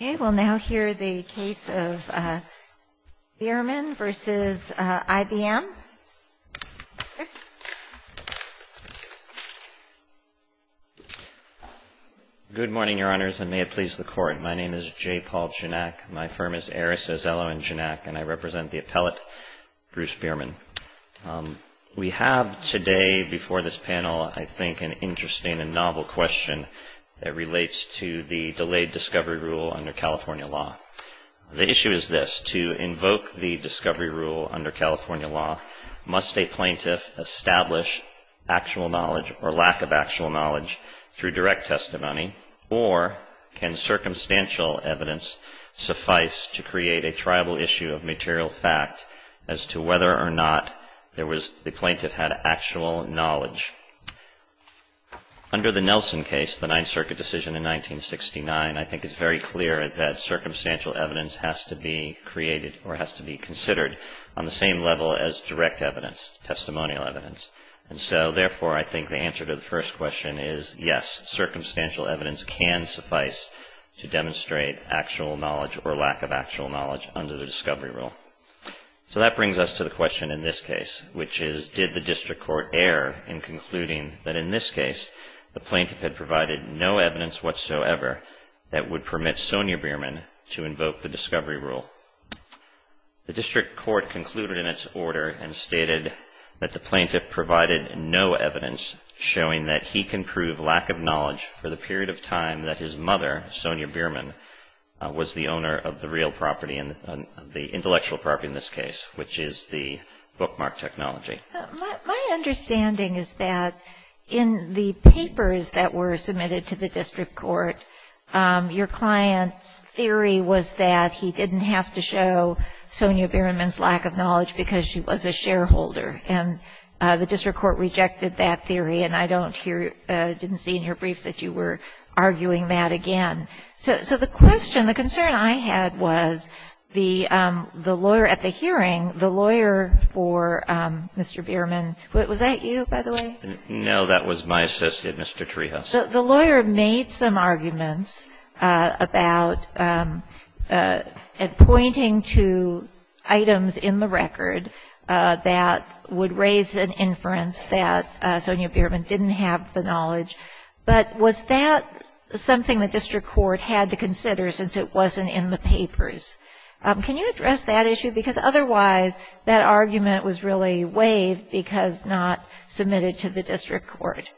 Good morning, Your Honors, and may it please the Court. My name is J. Paul Janak. My firm is Aris Azzello and Janak, and I represent the appellate, Bruce Bierman. We have today before this panel, I think, an interesting and novel question that relates to the delayed discovery rule under California law. The issue is this. To invoke the discovery rule under California law, must a plaintiff establish actual knowledge or lack of actual knowledge through direct testimony, or can circumstantial evidence suffice to create a tribal issue of material fact as to whether or not the plaintiff had actual knowledge? Under the Nelson case, the Ninth Circuit decision in 1969, I think it's very clear that circumstantial evidence has to be established, because, yes, circumstantial evidence can suffice to demonstrate actual knowledge or lack of actual knowledge under the discovery rule. So that brings us to the question in this case, which is, did the district court err in concluding that in this case, the plaintiff had provided no evidence whatsoever that would permit Sonia Bierman to invoke the discovery rule? The district court concluded in its order and stated that the plaintiff provided no evidence showing that he can prove lack of knowledge for the period of time that his mother, Sonia Bierman, was the owner of the real property, the intellectual property in this case, which is the bookmark technology. My understanding is that in the papers that were submitted to the district court, your client's theory was that he didn't have to show Sonia Bierman's lack of knowledge because she was a shareholder, and the district court rejected that theory, and I don't hear, didn't see in your briefs that you were arguing that again. So the question, the concern I had was the lawyer at the hearing, the lawyer for Mr. Bierman, was that you, by the way? No, that was my assistant, Mr. Trijas. The lawyer made some arguments about and pointing to items in the record that would raise an inference that Sonia Bierman didn't have the knowledge, but was that something the district court had to consider since it wasn't in the papers? Can you address that issue? Because otherwise, that argument was really waived because not submitted to the district court.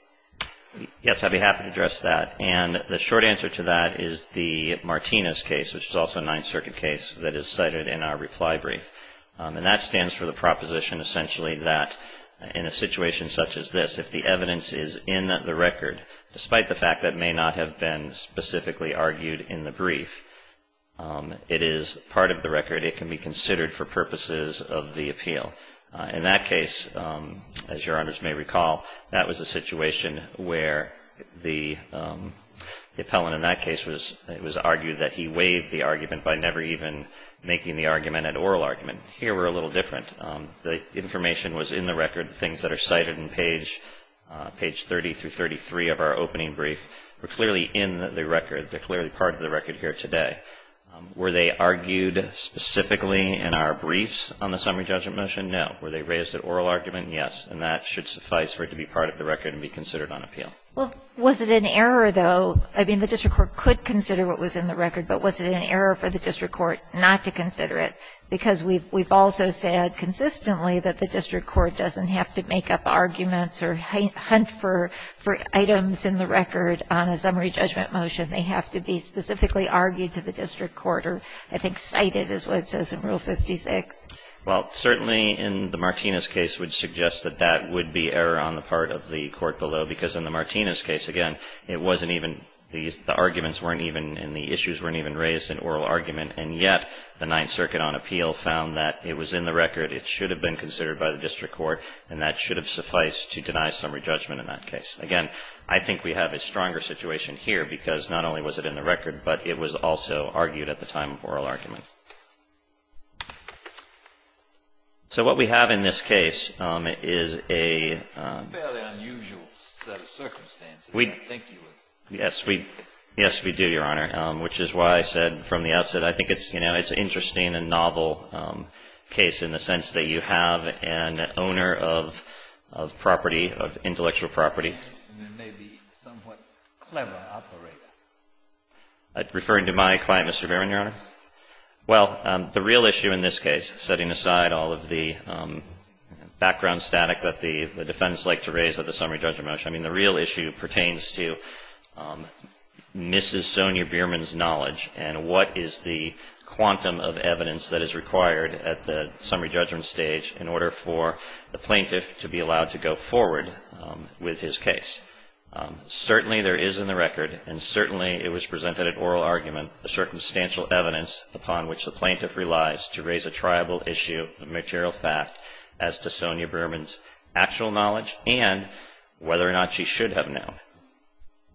Yes, I'd be happy to address that, and the short answer to that is the Martinez case, which is also a Ninth Circuit case that is cited in our reply brief, and that stands for the proposition essentially that in a situation such as this, if the evidence is in the record, despite the fact that may not have been specifically argued in the brief, it is part of the record. It can be considered for purposes of the appeal. In that case, as a situation where the appellant in that case was argued that he waived the argument by never even making the argument an oral argument, here we're a little different. The information was in the record, things that are cited in page 30 through 33 of our opening brief were clearly in the record. They're clearly part of the record here today. Were they argued specifically in our briefs on the summary judgment motion? No. Were they raised at oral argument? Yes. And that should suffice for it to be part of the record and be considered on appeal. Well, was it an error, though? I mean, the district court could consider what was in the record, but was it an error for the district court not to consider it? Because we've also said consistently that the district court doesn't have to make up arguments or hunt for items in the record on a summary judgment motion. They have to be specifically argued to the district court, or I think cited is what it says in Rule 56. Well, certainly in the Martinez case would suggest that that would be error on the part of the court below, because in the Martinez case, again, it wasn't even, the arguments weren't even and the issues weren't even raised in oral argument, and yet the Ninth Circuit on appeal found that it was in the record, it should have been considered by the district court, and that should have sufficed to deny summary judgment in that case. Again, I think we have a stronger situation here, because not only was it in the record, but it was also argued at the time of oral argument. So what we have in this case is a fairly unusual set of circumstances, I think you would agree. Yes, we do, Your Honor, which is why I said from the outset, I think it's, you know, it's an interesting and novel case in the sense that you have an owner of property, of intellectual property. And it may be somewhat clever operator. I'm referring to my client, Mr. Berman, Your Honor. Well, the real issue in this case, setting aside all of the background static that the defendants like to raise at the summary judgment motion, I mean, the real issue pertains to Mrs. Sonia Berman's knowledge and what is the quantum of evidence that is required at the summary judgment stage in order for the plaintiff to be allowed to go forward with his case. Certainly there is in the record, and certainly it was presented at oral argument, a circumstantial evidence upon which the plaintiff relies to raise a triable issue of material fact as to Sonia Berman's actual knowledge and whether or not she should have known.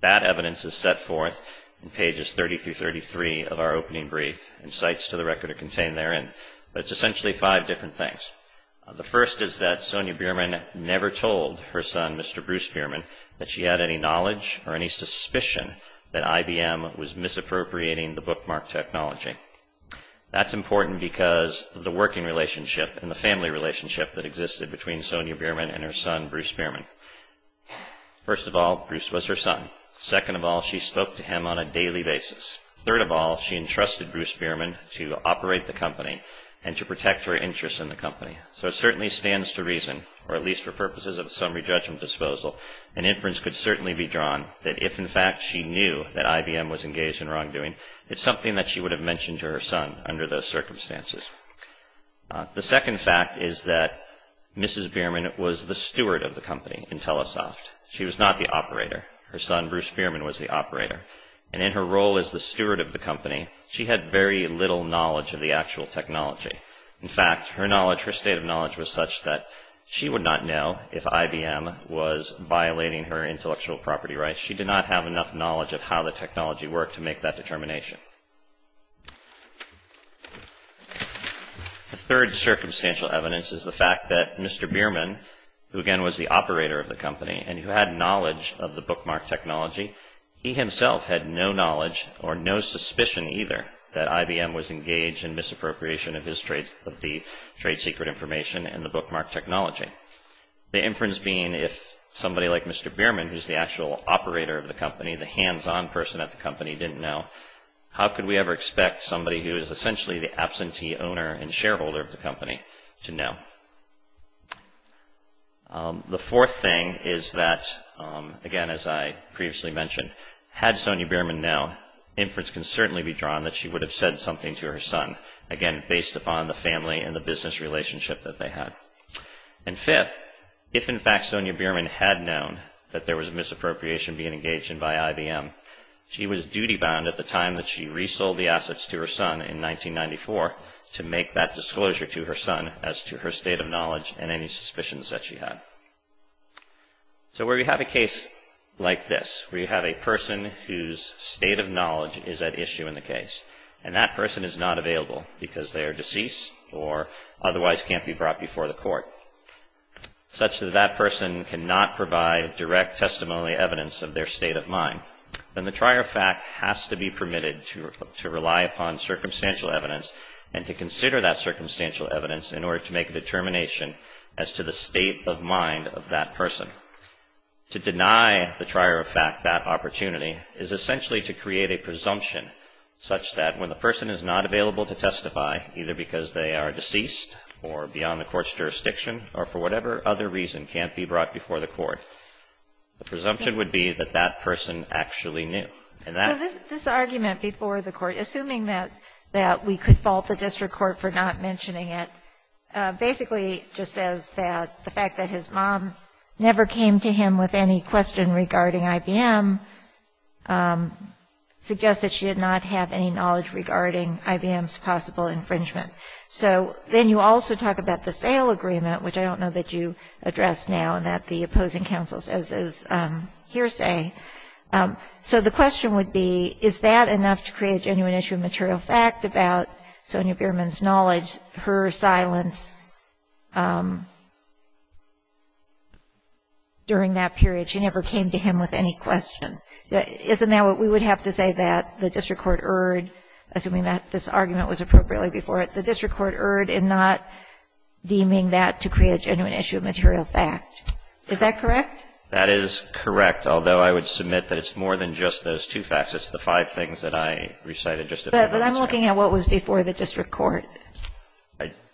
That evidence is set forth in pages 30 through 33 of our opening brief, and cites to the record are contained therein. But it's essentially five different things. The first is that Sonia Berman never told her son, Mr. Bruce Berman, that she had any knowledge or any suspicion that IBM was misappropriating the bookmark technology. That's important because of the working relationship and the family relationship that existed between Sonia Berman and her son, Bruce Berman. First of all, Bruce was her son. Second of all, she spoke to him on a daily basis. Third of all, she entrusted Bruce Berman to operate the company and to protect her interests in the company. So it certainly stands to reason, or at least for purposes of summary judgment disposal, an inference could certainly be drawn that if, in fact, she knew that IBM was engaged in wrongdoing, it's something that she would have mentioned to her son under those circumstances. The second fact is that Mrs. Berman was the steward of the company in Telesoft. She was not the operator. Her son, Bruce Berman, was the operator. And in her role as the steward of the company, she had very little knowledge of the actual technology. In fact, her knowledge, her state of knowledge was such that she would not know if IBM was violating her intellectual property rights. She did not have enough knowledge of how the technology worked to make that determination. The third circumstantial evidence is the fact that Mr. Berman, who again was the operator of the company and who had knowledge of the bookmark technology, he himself had no knowledge or no suspicion either that IBM was engaged in misappropriation of the trade secret information and the bookmark technology. The inference being if somebody like Mr. Berman, who's the actual operator of the company, the hands-on person at the company, didn't know, how could we ever expect somebody who is essentially the absentee owner and shareholder of the company to know? The fourth thing is that, again, as I previously mentioned, had Sonia Berman known, inference can certainly be drawn that she would have said something to her son, again, based upon the family and the business relationship that they had. And fifth, if in fact Sonia Berman had known that there was a misappropriation being engaged in by IBM, she was duty-bound at the time that she resold the assets to her son in 1994 to make that disclosure to her son as to her state of knowledge and any suspicions that she had. So where you have a case like this, where you have a person whose state of knowledge is at issue in the case and that person is not available because they are deceased or otherwise can't be brought before the court, such that that person cannot provide direct testimony evidence of their state of mind, then the trier of fact has to be permitted to rely upon circumstantial evidence and to consider that circumstantial evidence in order to make a determination as to the state of mind of that person. To deny the trier of fact that opportunity is essentially to create a presumption such that when the person is not available to testify, either because they are deceased or beyond the court's jurisdiction or for whatever other reason can't be brought before the court, the presumption would be that that person actually knew. And that — So this argument before the court, assuming that we could fault the district court for not mentioning it, basically just says that the fact that his mom never came to him with any question regarding IBM suggests that she did not have any knowledge regarding IBM's possible infringement. So then you also talk about the sale agreement, which I don't know that you addressed now and that the opposing counsel says is hearsay. So the question would be, is that enough to create a genuine issue of material fact about Sonya Bierman's knowledge, her silence during that period? She never came to him with any question. Isn't that what we would have to say that the district court erred, assuming that this argument was appropriately before it, the district court erred in not deeming that to create a genuine issue of material fact. Is that correct? That is correct, although I would submit that it's more than just those two facts. It's the five things that I recited just a few minutes ago. But I'm looking at what was before the district court.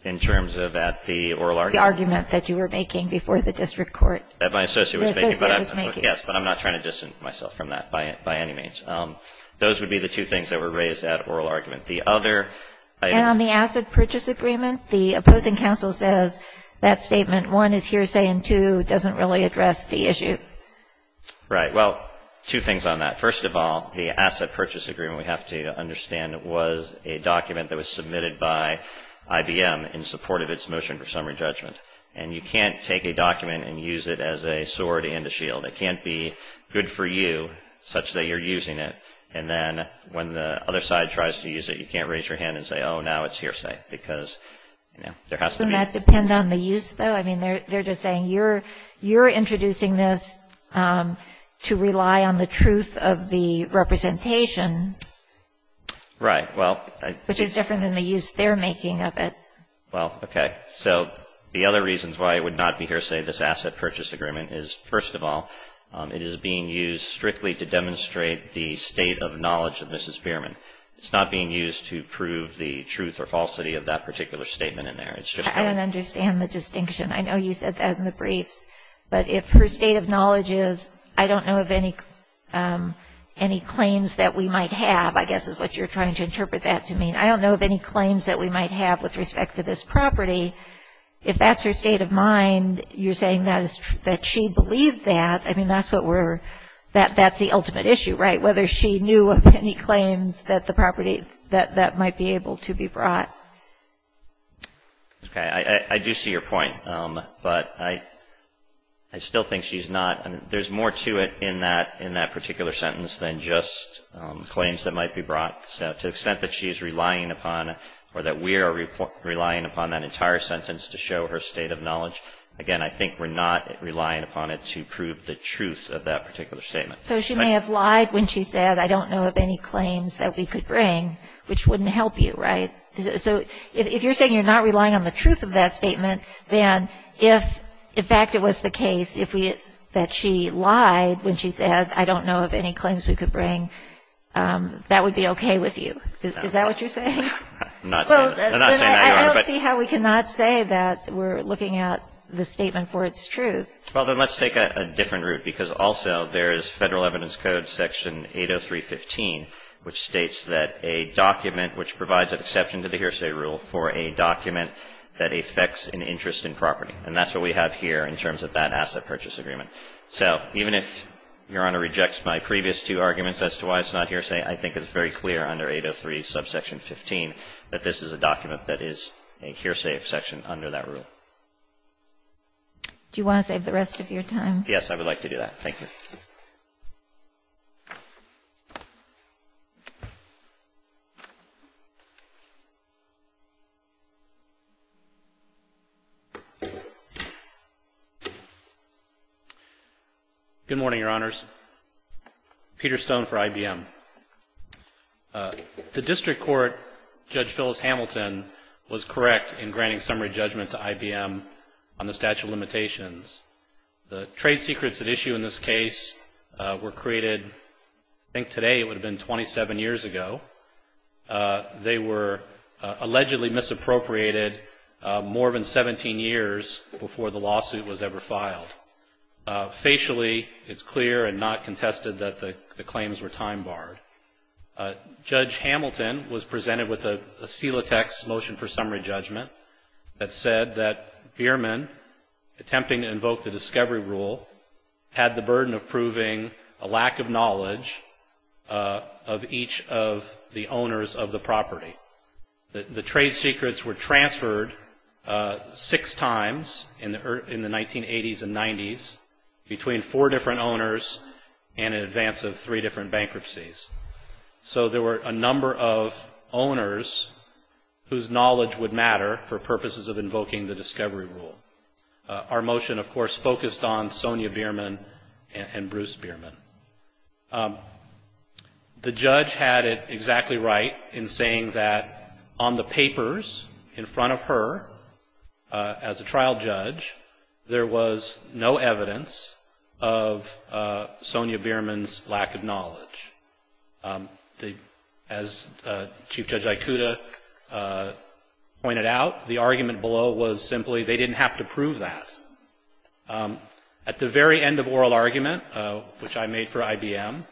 In terms of that, the oral argument? The argument that you were making before the district court. That my associate was making. Yes, but I'm not trying to distance myself from that by any means. Those would be the two things that were raised at oral argument. And on the asset purchase agreement, the opposing counsel says that statement, one is hearsay and two doesn't really address the issue. Right. Well, two things on that. First of all, the asset purchase agreement, we have to understand, was a document that was submitted by IBM in support of its motion for summary judgment. And you can't take a document and use it as a sword and a shield. It can't be good for you such that you're using it. And then when the other side tries to use it, you can't raise your hand and say, oh, now it's hearsay because, you know, there has to be. Doesn't that depend on the use, though? I mean, they're just saying you're introducing this to rely on the truth of the representation. Right. Well. Which is different than the use they're making of it. Well, okay. So the other reasons why it would not be hearsay, this asset purchase agreement, is, first of all, it is being used strictly to demonstrate the state of knowledge of Mrs. Bierman. It's not being used to prove the truth or falsity of that particular statement in there. I don't understand the distinction. I know you said that in the briefs. But if her state of knowledge is, I don't know of any claims that we might have, I guess is what you're trying to interpret that to mean. I don't know of any claims that we might have with respect to this property. If that's her state of mind, you're saying that she believed that. I mean, that's the ultimate issue, right, whether she knew of any claims that the property that might be able to be brought. Okay. I do see your point. But I still think she's not. There's more to it in that particular sentence than just claims that might be brought. To the extent that she's relying upon or that we are relying upon that entire sentence to show her state of knowledge, again, I think we're not relying upon it to prove the truth of that particular statement. So she may have lied when she said, I don't know of any claims that we could bring, which wouldn't help you, right? So if you're saying you're not relying on the truth of that statement, then if in fact it was the case that she lied when she said, I don't know of any claims we could bring, that would be okay with you. Is that what you're saying? I'm not saying that. I don't see how we cannot say that we're looking at the statement for its truth. Well, then let's take a different route, because also there is Federal Evidence Code section 803.15, which states that a document which provides an exception to the hearsay rule for a document that affects an interest in property. And that's what we have here in terms of that asset purchase agreement. So even if Your Honor rejects my previous two arguments as to why it's not hearsay, I think it's very clear under 803 subsection 15 that this is a document that is a hearsay exception under that rule. Do you want to save the rest of your time? Yes, I would like to do that. Thank you. Good morning, Your Honors. Peter Stone for IBM. The district court, Judge Phyllis Hamilton, was correct in granting summary judgment to IBM on the statute of limitations. The trade secrets at issue in this case were created, I think today it would have been 27 years ago. They were allegedly misappropriated more than 17 years before the lawsuit was ever filed. Facially, it's clear and not contested that the claims were time-barred. Judge Hamilton was presented with a SELA text, Motion for Summary Judgment, that said that Biermann, attempting to invoke the discovery rule, had the burden of proving a lack of knowledge of each of the owners of the property. The trade secrets were transferred six times in the 1980s and 90s between four different owners and in advance of three different bankruptcies. So there were a number of owners whose knowledge would matter for purposes of invoking the discovery rule. Our motion, of course, focused on Sonia Biermann and Bruce Biermann. The judge had it exactly right in saying that on the papers in front of her, as a trial judge, there was no evidence of Sonia Biermann's lack of knowledge. As Chief Judge Aikuda pointed out, the argument below was simply they didn't have to prove that. At the very end of oral argument, which I made for IBM,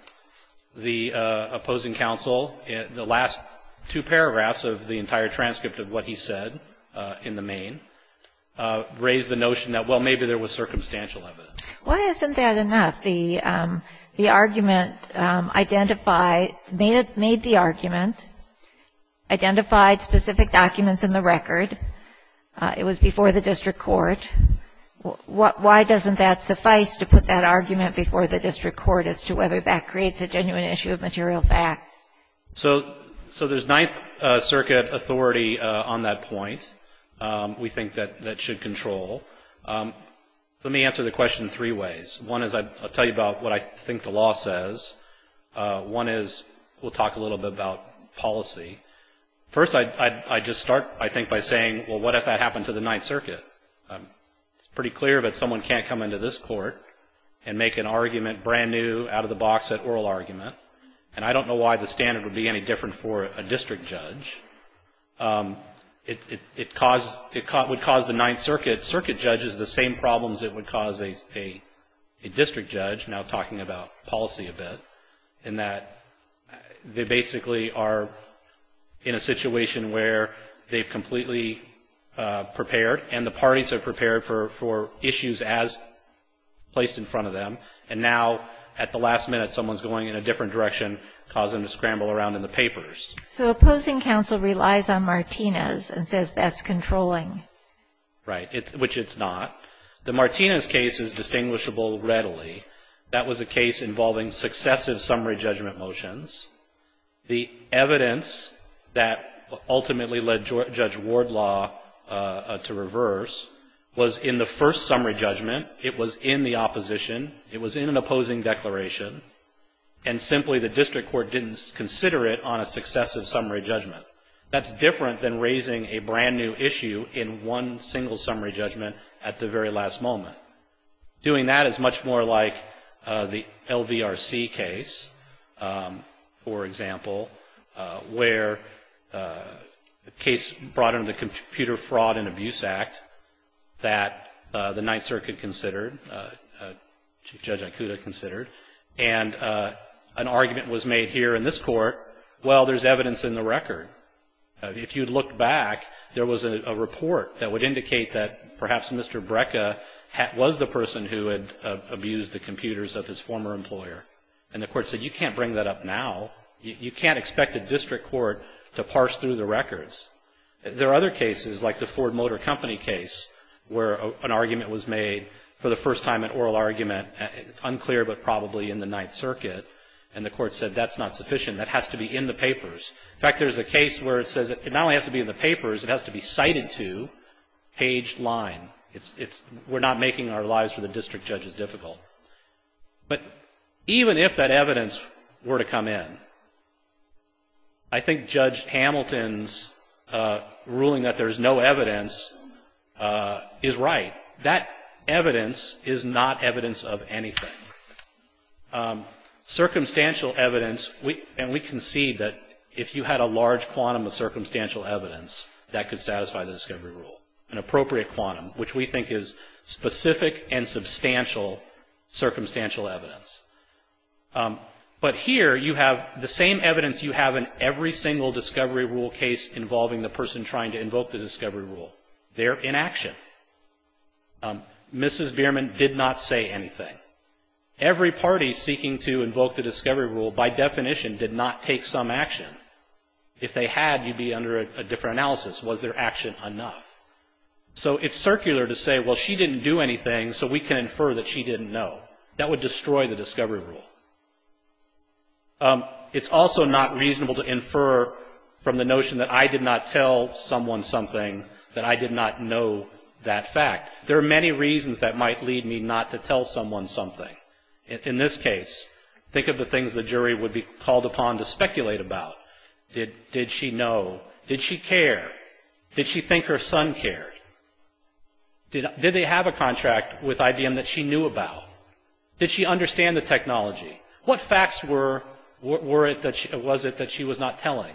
the opposing counsel, the last two paragraphs of the entire transcript of what he said in the main, raised the notion that, well, maybe there was circumstantial evidence. Why isn't that enough? The argument identified, made the argument, identified specific documents in the record. It was before the district court. Why doesn't that suffice, to put that argument before the district court, as to whether that creates a genuine issue of material fact? So there's Ninth Circuit authority on that point. We think that that should control. Let me answer the question three ways. One is I'll tell you about what I think the law says. One is we'll talk a little bit about policy. First, I'd just start, I think, by saying, well, what if that happened to the Ninth Circuit? It's pretty clear that someone can't come into this court and make an argument brand new out of the box at oral argument. And I don't know why the standard would be any different for a district judge. It would cause the Ninth Circuit circuit judges the same problems it would cause a district judge, now talking about policy a bit, in that they basically are in a situation where they've completely prepared and the parties are prepared for issues as placed in front of them, and now at the last minute someone's going in a different direction, causing them to scramble around in the papers. So opposing counsel relies on Martinez and says that's controlling. Right, which it's not. The Martinez case is distinguishable readily. That was a case involving successive summary judgment motions. The evidence that ultimately led Judge Wardlaw to reverse was in the first summary judgment. It was in the opposition. It was in an opposing declaration. And simply the district court didn't consider it on a successive summary judgment. That's different than raising a brand new issue in one single summary judgment at the very last moment. Doing that is much more like the LVRC case, for example, where a case brought under the Computer Fraud and Abuse Act that the Ninth Circuit considered, Judge Ikuda considered, and an argument was made here in this court, well, there's evidence in the record. If you look back, there was a report that would indicate that perhaps Mr. Brekka was the person who had abused the computers of his former employer. And the court said you can't bring that up now. You can't expect a district court to parse through the records. There are other cases, like the Ford Motor Company case, where an argument was made for the first time, an oral argument. It's unclear, but probably in the Ninth Circuit. And the court said that's not sufficient. That has to be in the papers. In fact, there's a case where it says it not only has to be in the papers, it has to be cited to page line. We're not making our lives for the district judges difficult. But even if that evidence were to come in, I think Judge Hamilton's ruling that there's no evidence is right. That evidence is not evidence of anything. Circumstantial evidence, and we concede that if you had a large quantum of circumstantial evidence, that could satisfy the discovery rule, an appropriate quantum, which we think is specific and substantial circumstantial evidence. But here you have the same evidence you have in every single discovery rule case involving the person trying to invoke the discovery rule. They're inaction. Mrs. Bierman did not say anything. Every party seeking to invoke the discovery rule, by definition, did not take some action. If they had, you'd be under a different analysis. Was their action enough? So it's circular to say, well, she didn't do anything, so we can infer that she didn't know. That would destroy the discovery rule. It's also not reasonable to infer from the notion that I did not tell someone something, that I did not know that fact. There are many reasons that might lead me not to tell someone something. In this case, think of the things the jury would be called upon to speculate about. Did she know? Did she care? Did she think her son cared? Did they have a contract with IBM that she knew about? Did she understand the technology? What facts were it that she was not telling?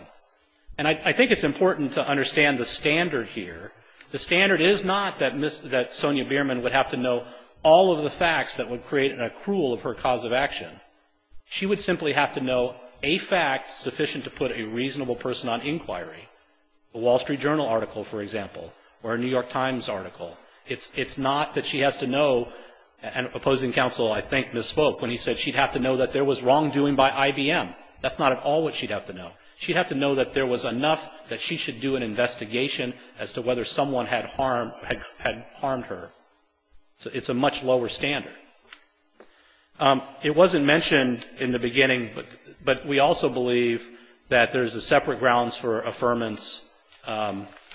And I think it's important to understand the standard here. The standard is not that Sonia Bierman would have to know all of the facts that would create an accrual of her cause of action. She would simply have to know a fact sufficient to put a reasonable person on inquiry. A Wall Street Journal article, for example, or a New York Times article. It's not that she has to know, and a proposing counsel, I think, misspoke when he said she'd have to know that there was wrongdoing by IBM. That's not at all what she'd have to know. She'd have to know that there was enough that she should do an investigation as to whether someone had harmed her. So it's a much lower standard. It wasn't mentioned in the beginning, but we also believe that there's separate grounds for affirmance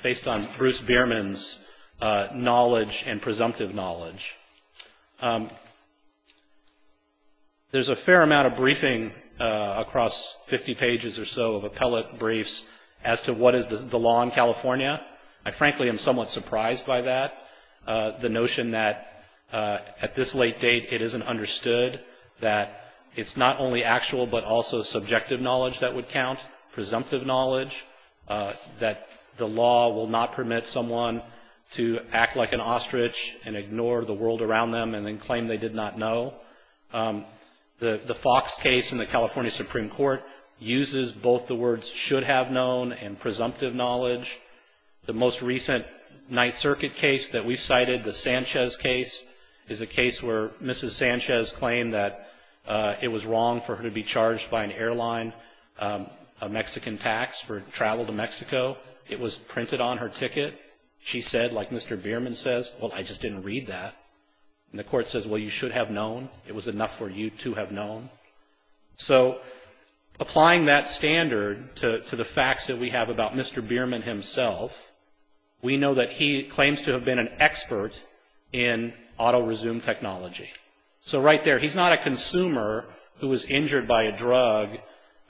based on Bruce Bierman's knowledge and presumptive knowledge. There's a fair amount of briefing across 50 pages or so of appellate briefs as to what is the law in California. I frankly am somewhat surprised by that, the notion that at this late date it isn't understood, that it's not only actual but also subjective knowledge that would count, presumptive knowledge, that the law will not permit someone to act like an ostrich and ignore the world around them and then claim they did not know. The Fox case in the California Supreme Court uses both the words should have known and presumptive knowledge. The most recent Ninth Circuit case that we've cited, the Sanchez case, is a case where Mrs. Sanchez claimed that it was wrong for her to be charged by an airline, a Mexican tax for travel to Mexico. It was printed on her ticket. She said, like Mr. Bierman says, well, I just didn't read that. And the court says, well, you should have known. It was enough for you to have known. So applying that standard to the facts that we have about Mr. Bierman himself, we know that he claims to have been an expert in auto resume technology. So right there, he's not a consumer who was injured by a drug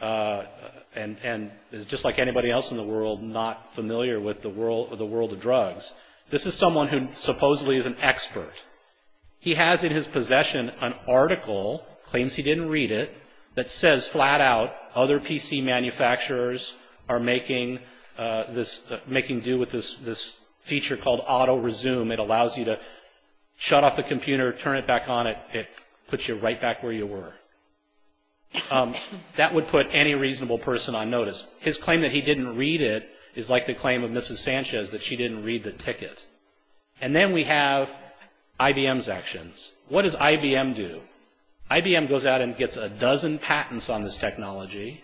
and is just like anybody else in the world not familiar with the world of drugs. This is someone who supposedly is an expert. He has in his possession an article, claims he didn't read it, that says flat out other PC manufacturers are making do with this feature called auto resume. It allows you to shut off the computer, turn it back on, it puts you right back where you were. That would put any reasonable person on notice. His claim that he didn't read it is like the claim of Mrs. Sanchez that she didn't read the ticket. And then we have IBM's actions. What does IBM do? IBM goes out and gets a dozen patents on this technology.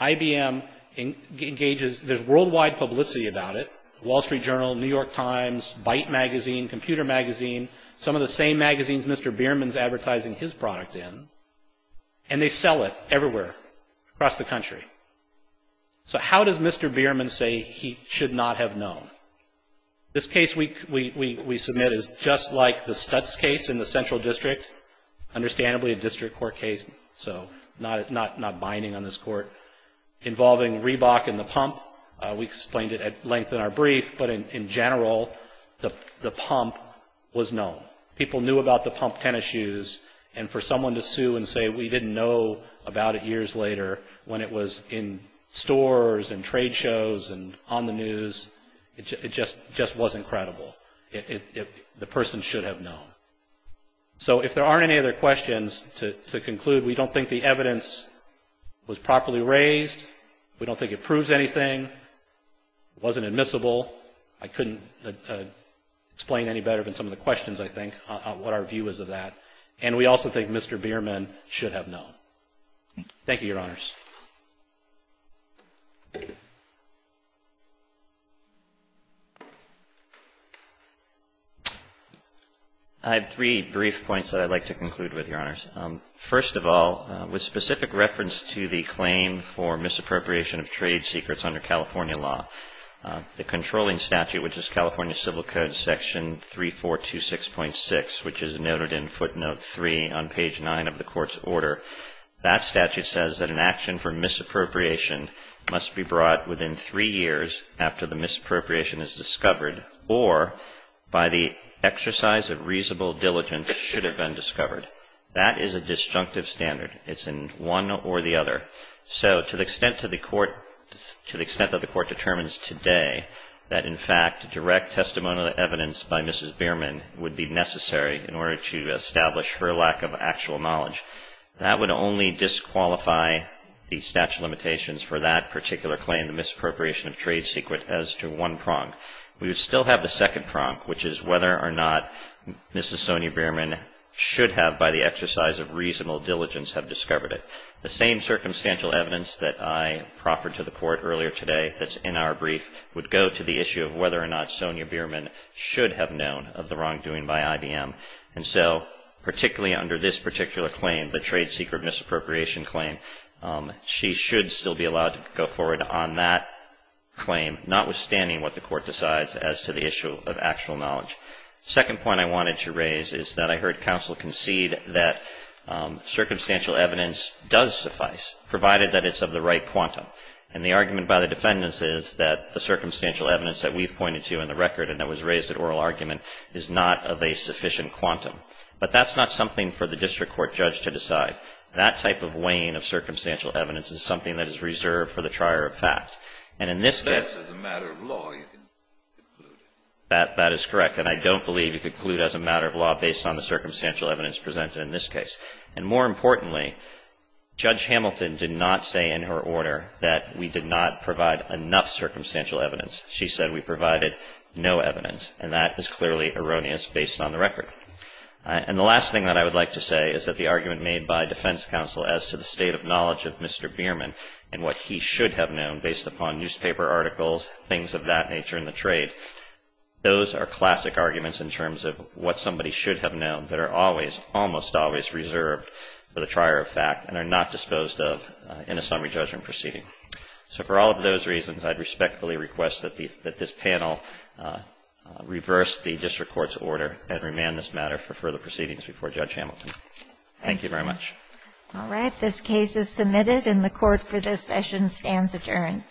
IBM engages, there's worldwide publicity about it. Wall Street Journal, New York Times, Byte Magazine, Computer Magazine, some of the same magazines Mr. Bierman's advertising his product in, and they sell it everywhere across the country. So how does Mr. Bierman say he should not have known? This case we submit is just like the Stutz case in the Central District, understandably a district court case, so not binding on this court, involving Reebok and the pump. We explained it at length in our brief, but in general, the pump was known. People knew about the pump tennis shoes, and for someone to sue and say we didn't know about it years later when it was in stores and trade shows and on the news, it just wasn't credible. The person should have known. So if there aren't any other questions, to conclude, we don't think the evidence was properly raised. We don't think it proves anything. It wasn't admissible. I couldn't explain any better than some of the questions, I think, what our view is of that. And we also think Mr. Bierman should have known. Thank you, Your Honors. I have three brief points that I'd like to conclude with, Your Honors. First of all, with specific reference to the claim for misappropriation of trade secrets under California law, the controlling statute, which is California Civil Code section 3426.6, which is noted in footnote 3 on page 9 of the court's order, that statute says that an action for misappropriation must be brought within three years after the misappropriation is discovered or by the exercise of reasonable diligence should have been discovered. That is a disjunctive standard. It's in one or the other. So to the extent that the court determines today that, in fact, direct testimonial evidence by Mrs. Bierman would be necessary in order to establish her lack of actual knowledge, that would only disqualify the statute of limitations for that particular claim, the misappropriation of trade secret, as to one prong. We would still have the second prong, which is whether or not Mrs. Sonia Bierman should have, by the exercise of reasonable diligence, have discovered it. The same circumstantial evidence that I proffered to the court earlier today that's in our brief would go to the issue of whether or not Sonia Bierman should have known of the wrongdoing by IBM. And so, particularly under this particular claim, the trade secret misappropriation claim, she should still be allowed to go forward on that claim, notwithstanding what the court decides as to the issue of actual knowledge. The second point I wanted to raise is that I heard counsel concede that circumstantial evidence does suffice, provided that it's of the right quantum. And the argument by the defendants is that the circumstantial evidence that we've pointed to in the record and that was raised at oral argument is not of a sufficient quantum. But that's not something for the district court judge to decide. That type of weighing of circumstantial evidence is something that is reserved for the trier of fact. And in this case — If that's as a matter of law, you can conclude. That is correct. And I don't believe you conclude as a matter of law based on the circumstantial evidence presented in this case. And more importantly, Judge Hamilton did not say in her order that we did not provide enough circumstantial evidence. She said we provided no evidence. And that is clearly erroneous based on the record. And the last thing that I would like to say is that the argument made by defense counsel as to the state of knowledge of Mr. Bierman and what he should have known based upon newspaper articles, things of that nature in the trade, those are classic arguments in terms of what somebody should have known that are always, almost always reserved for the trier of fact and are not disposed of in a summary judgment proceeding. So for all of those reasons, I'd respectfully request that this panel reverse the district court's order and remand this matter for further proceedings before Judge Hamilton. Thank you very much. All right. This case is submitted, and the Court for this session stands adjourned.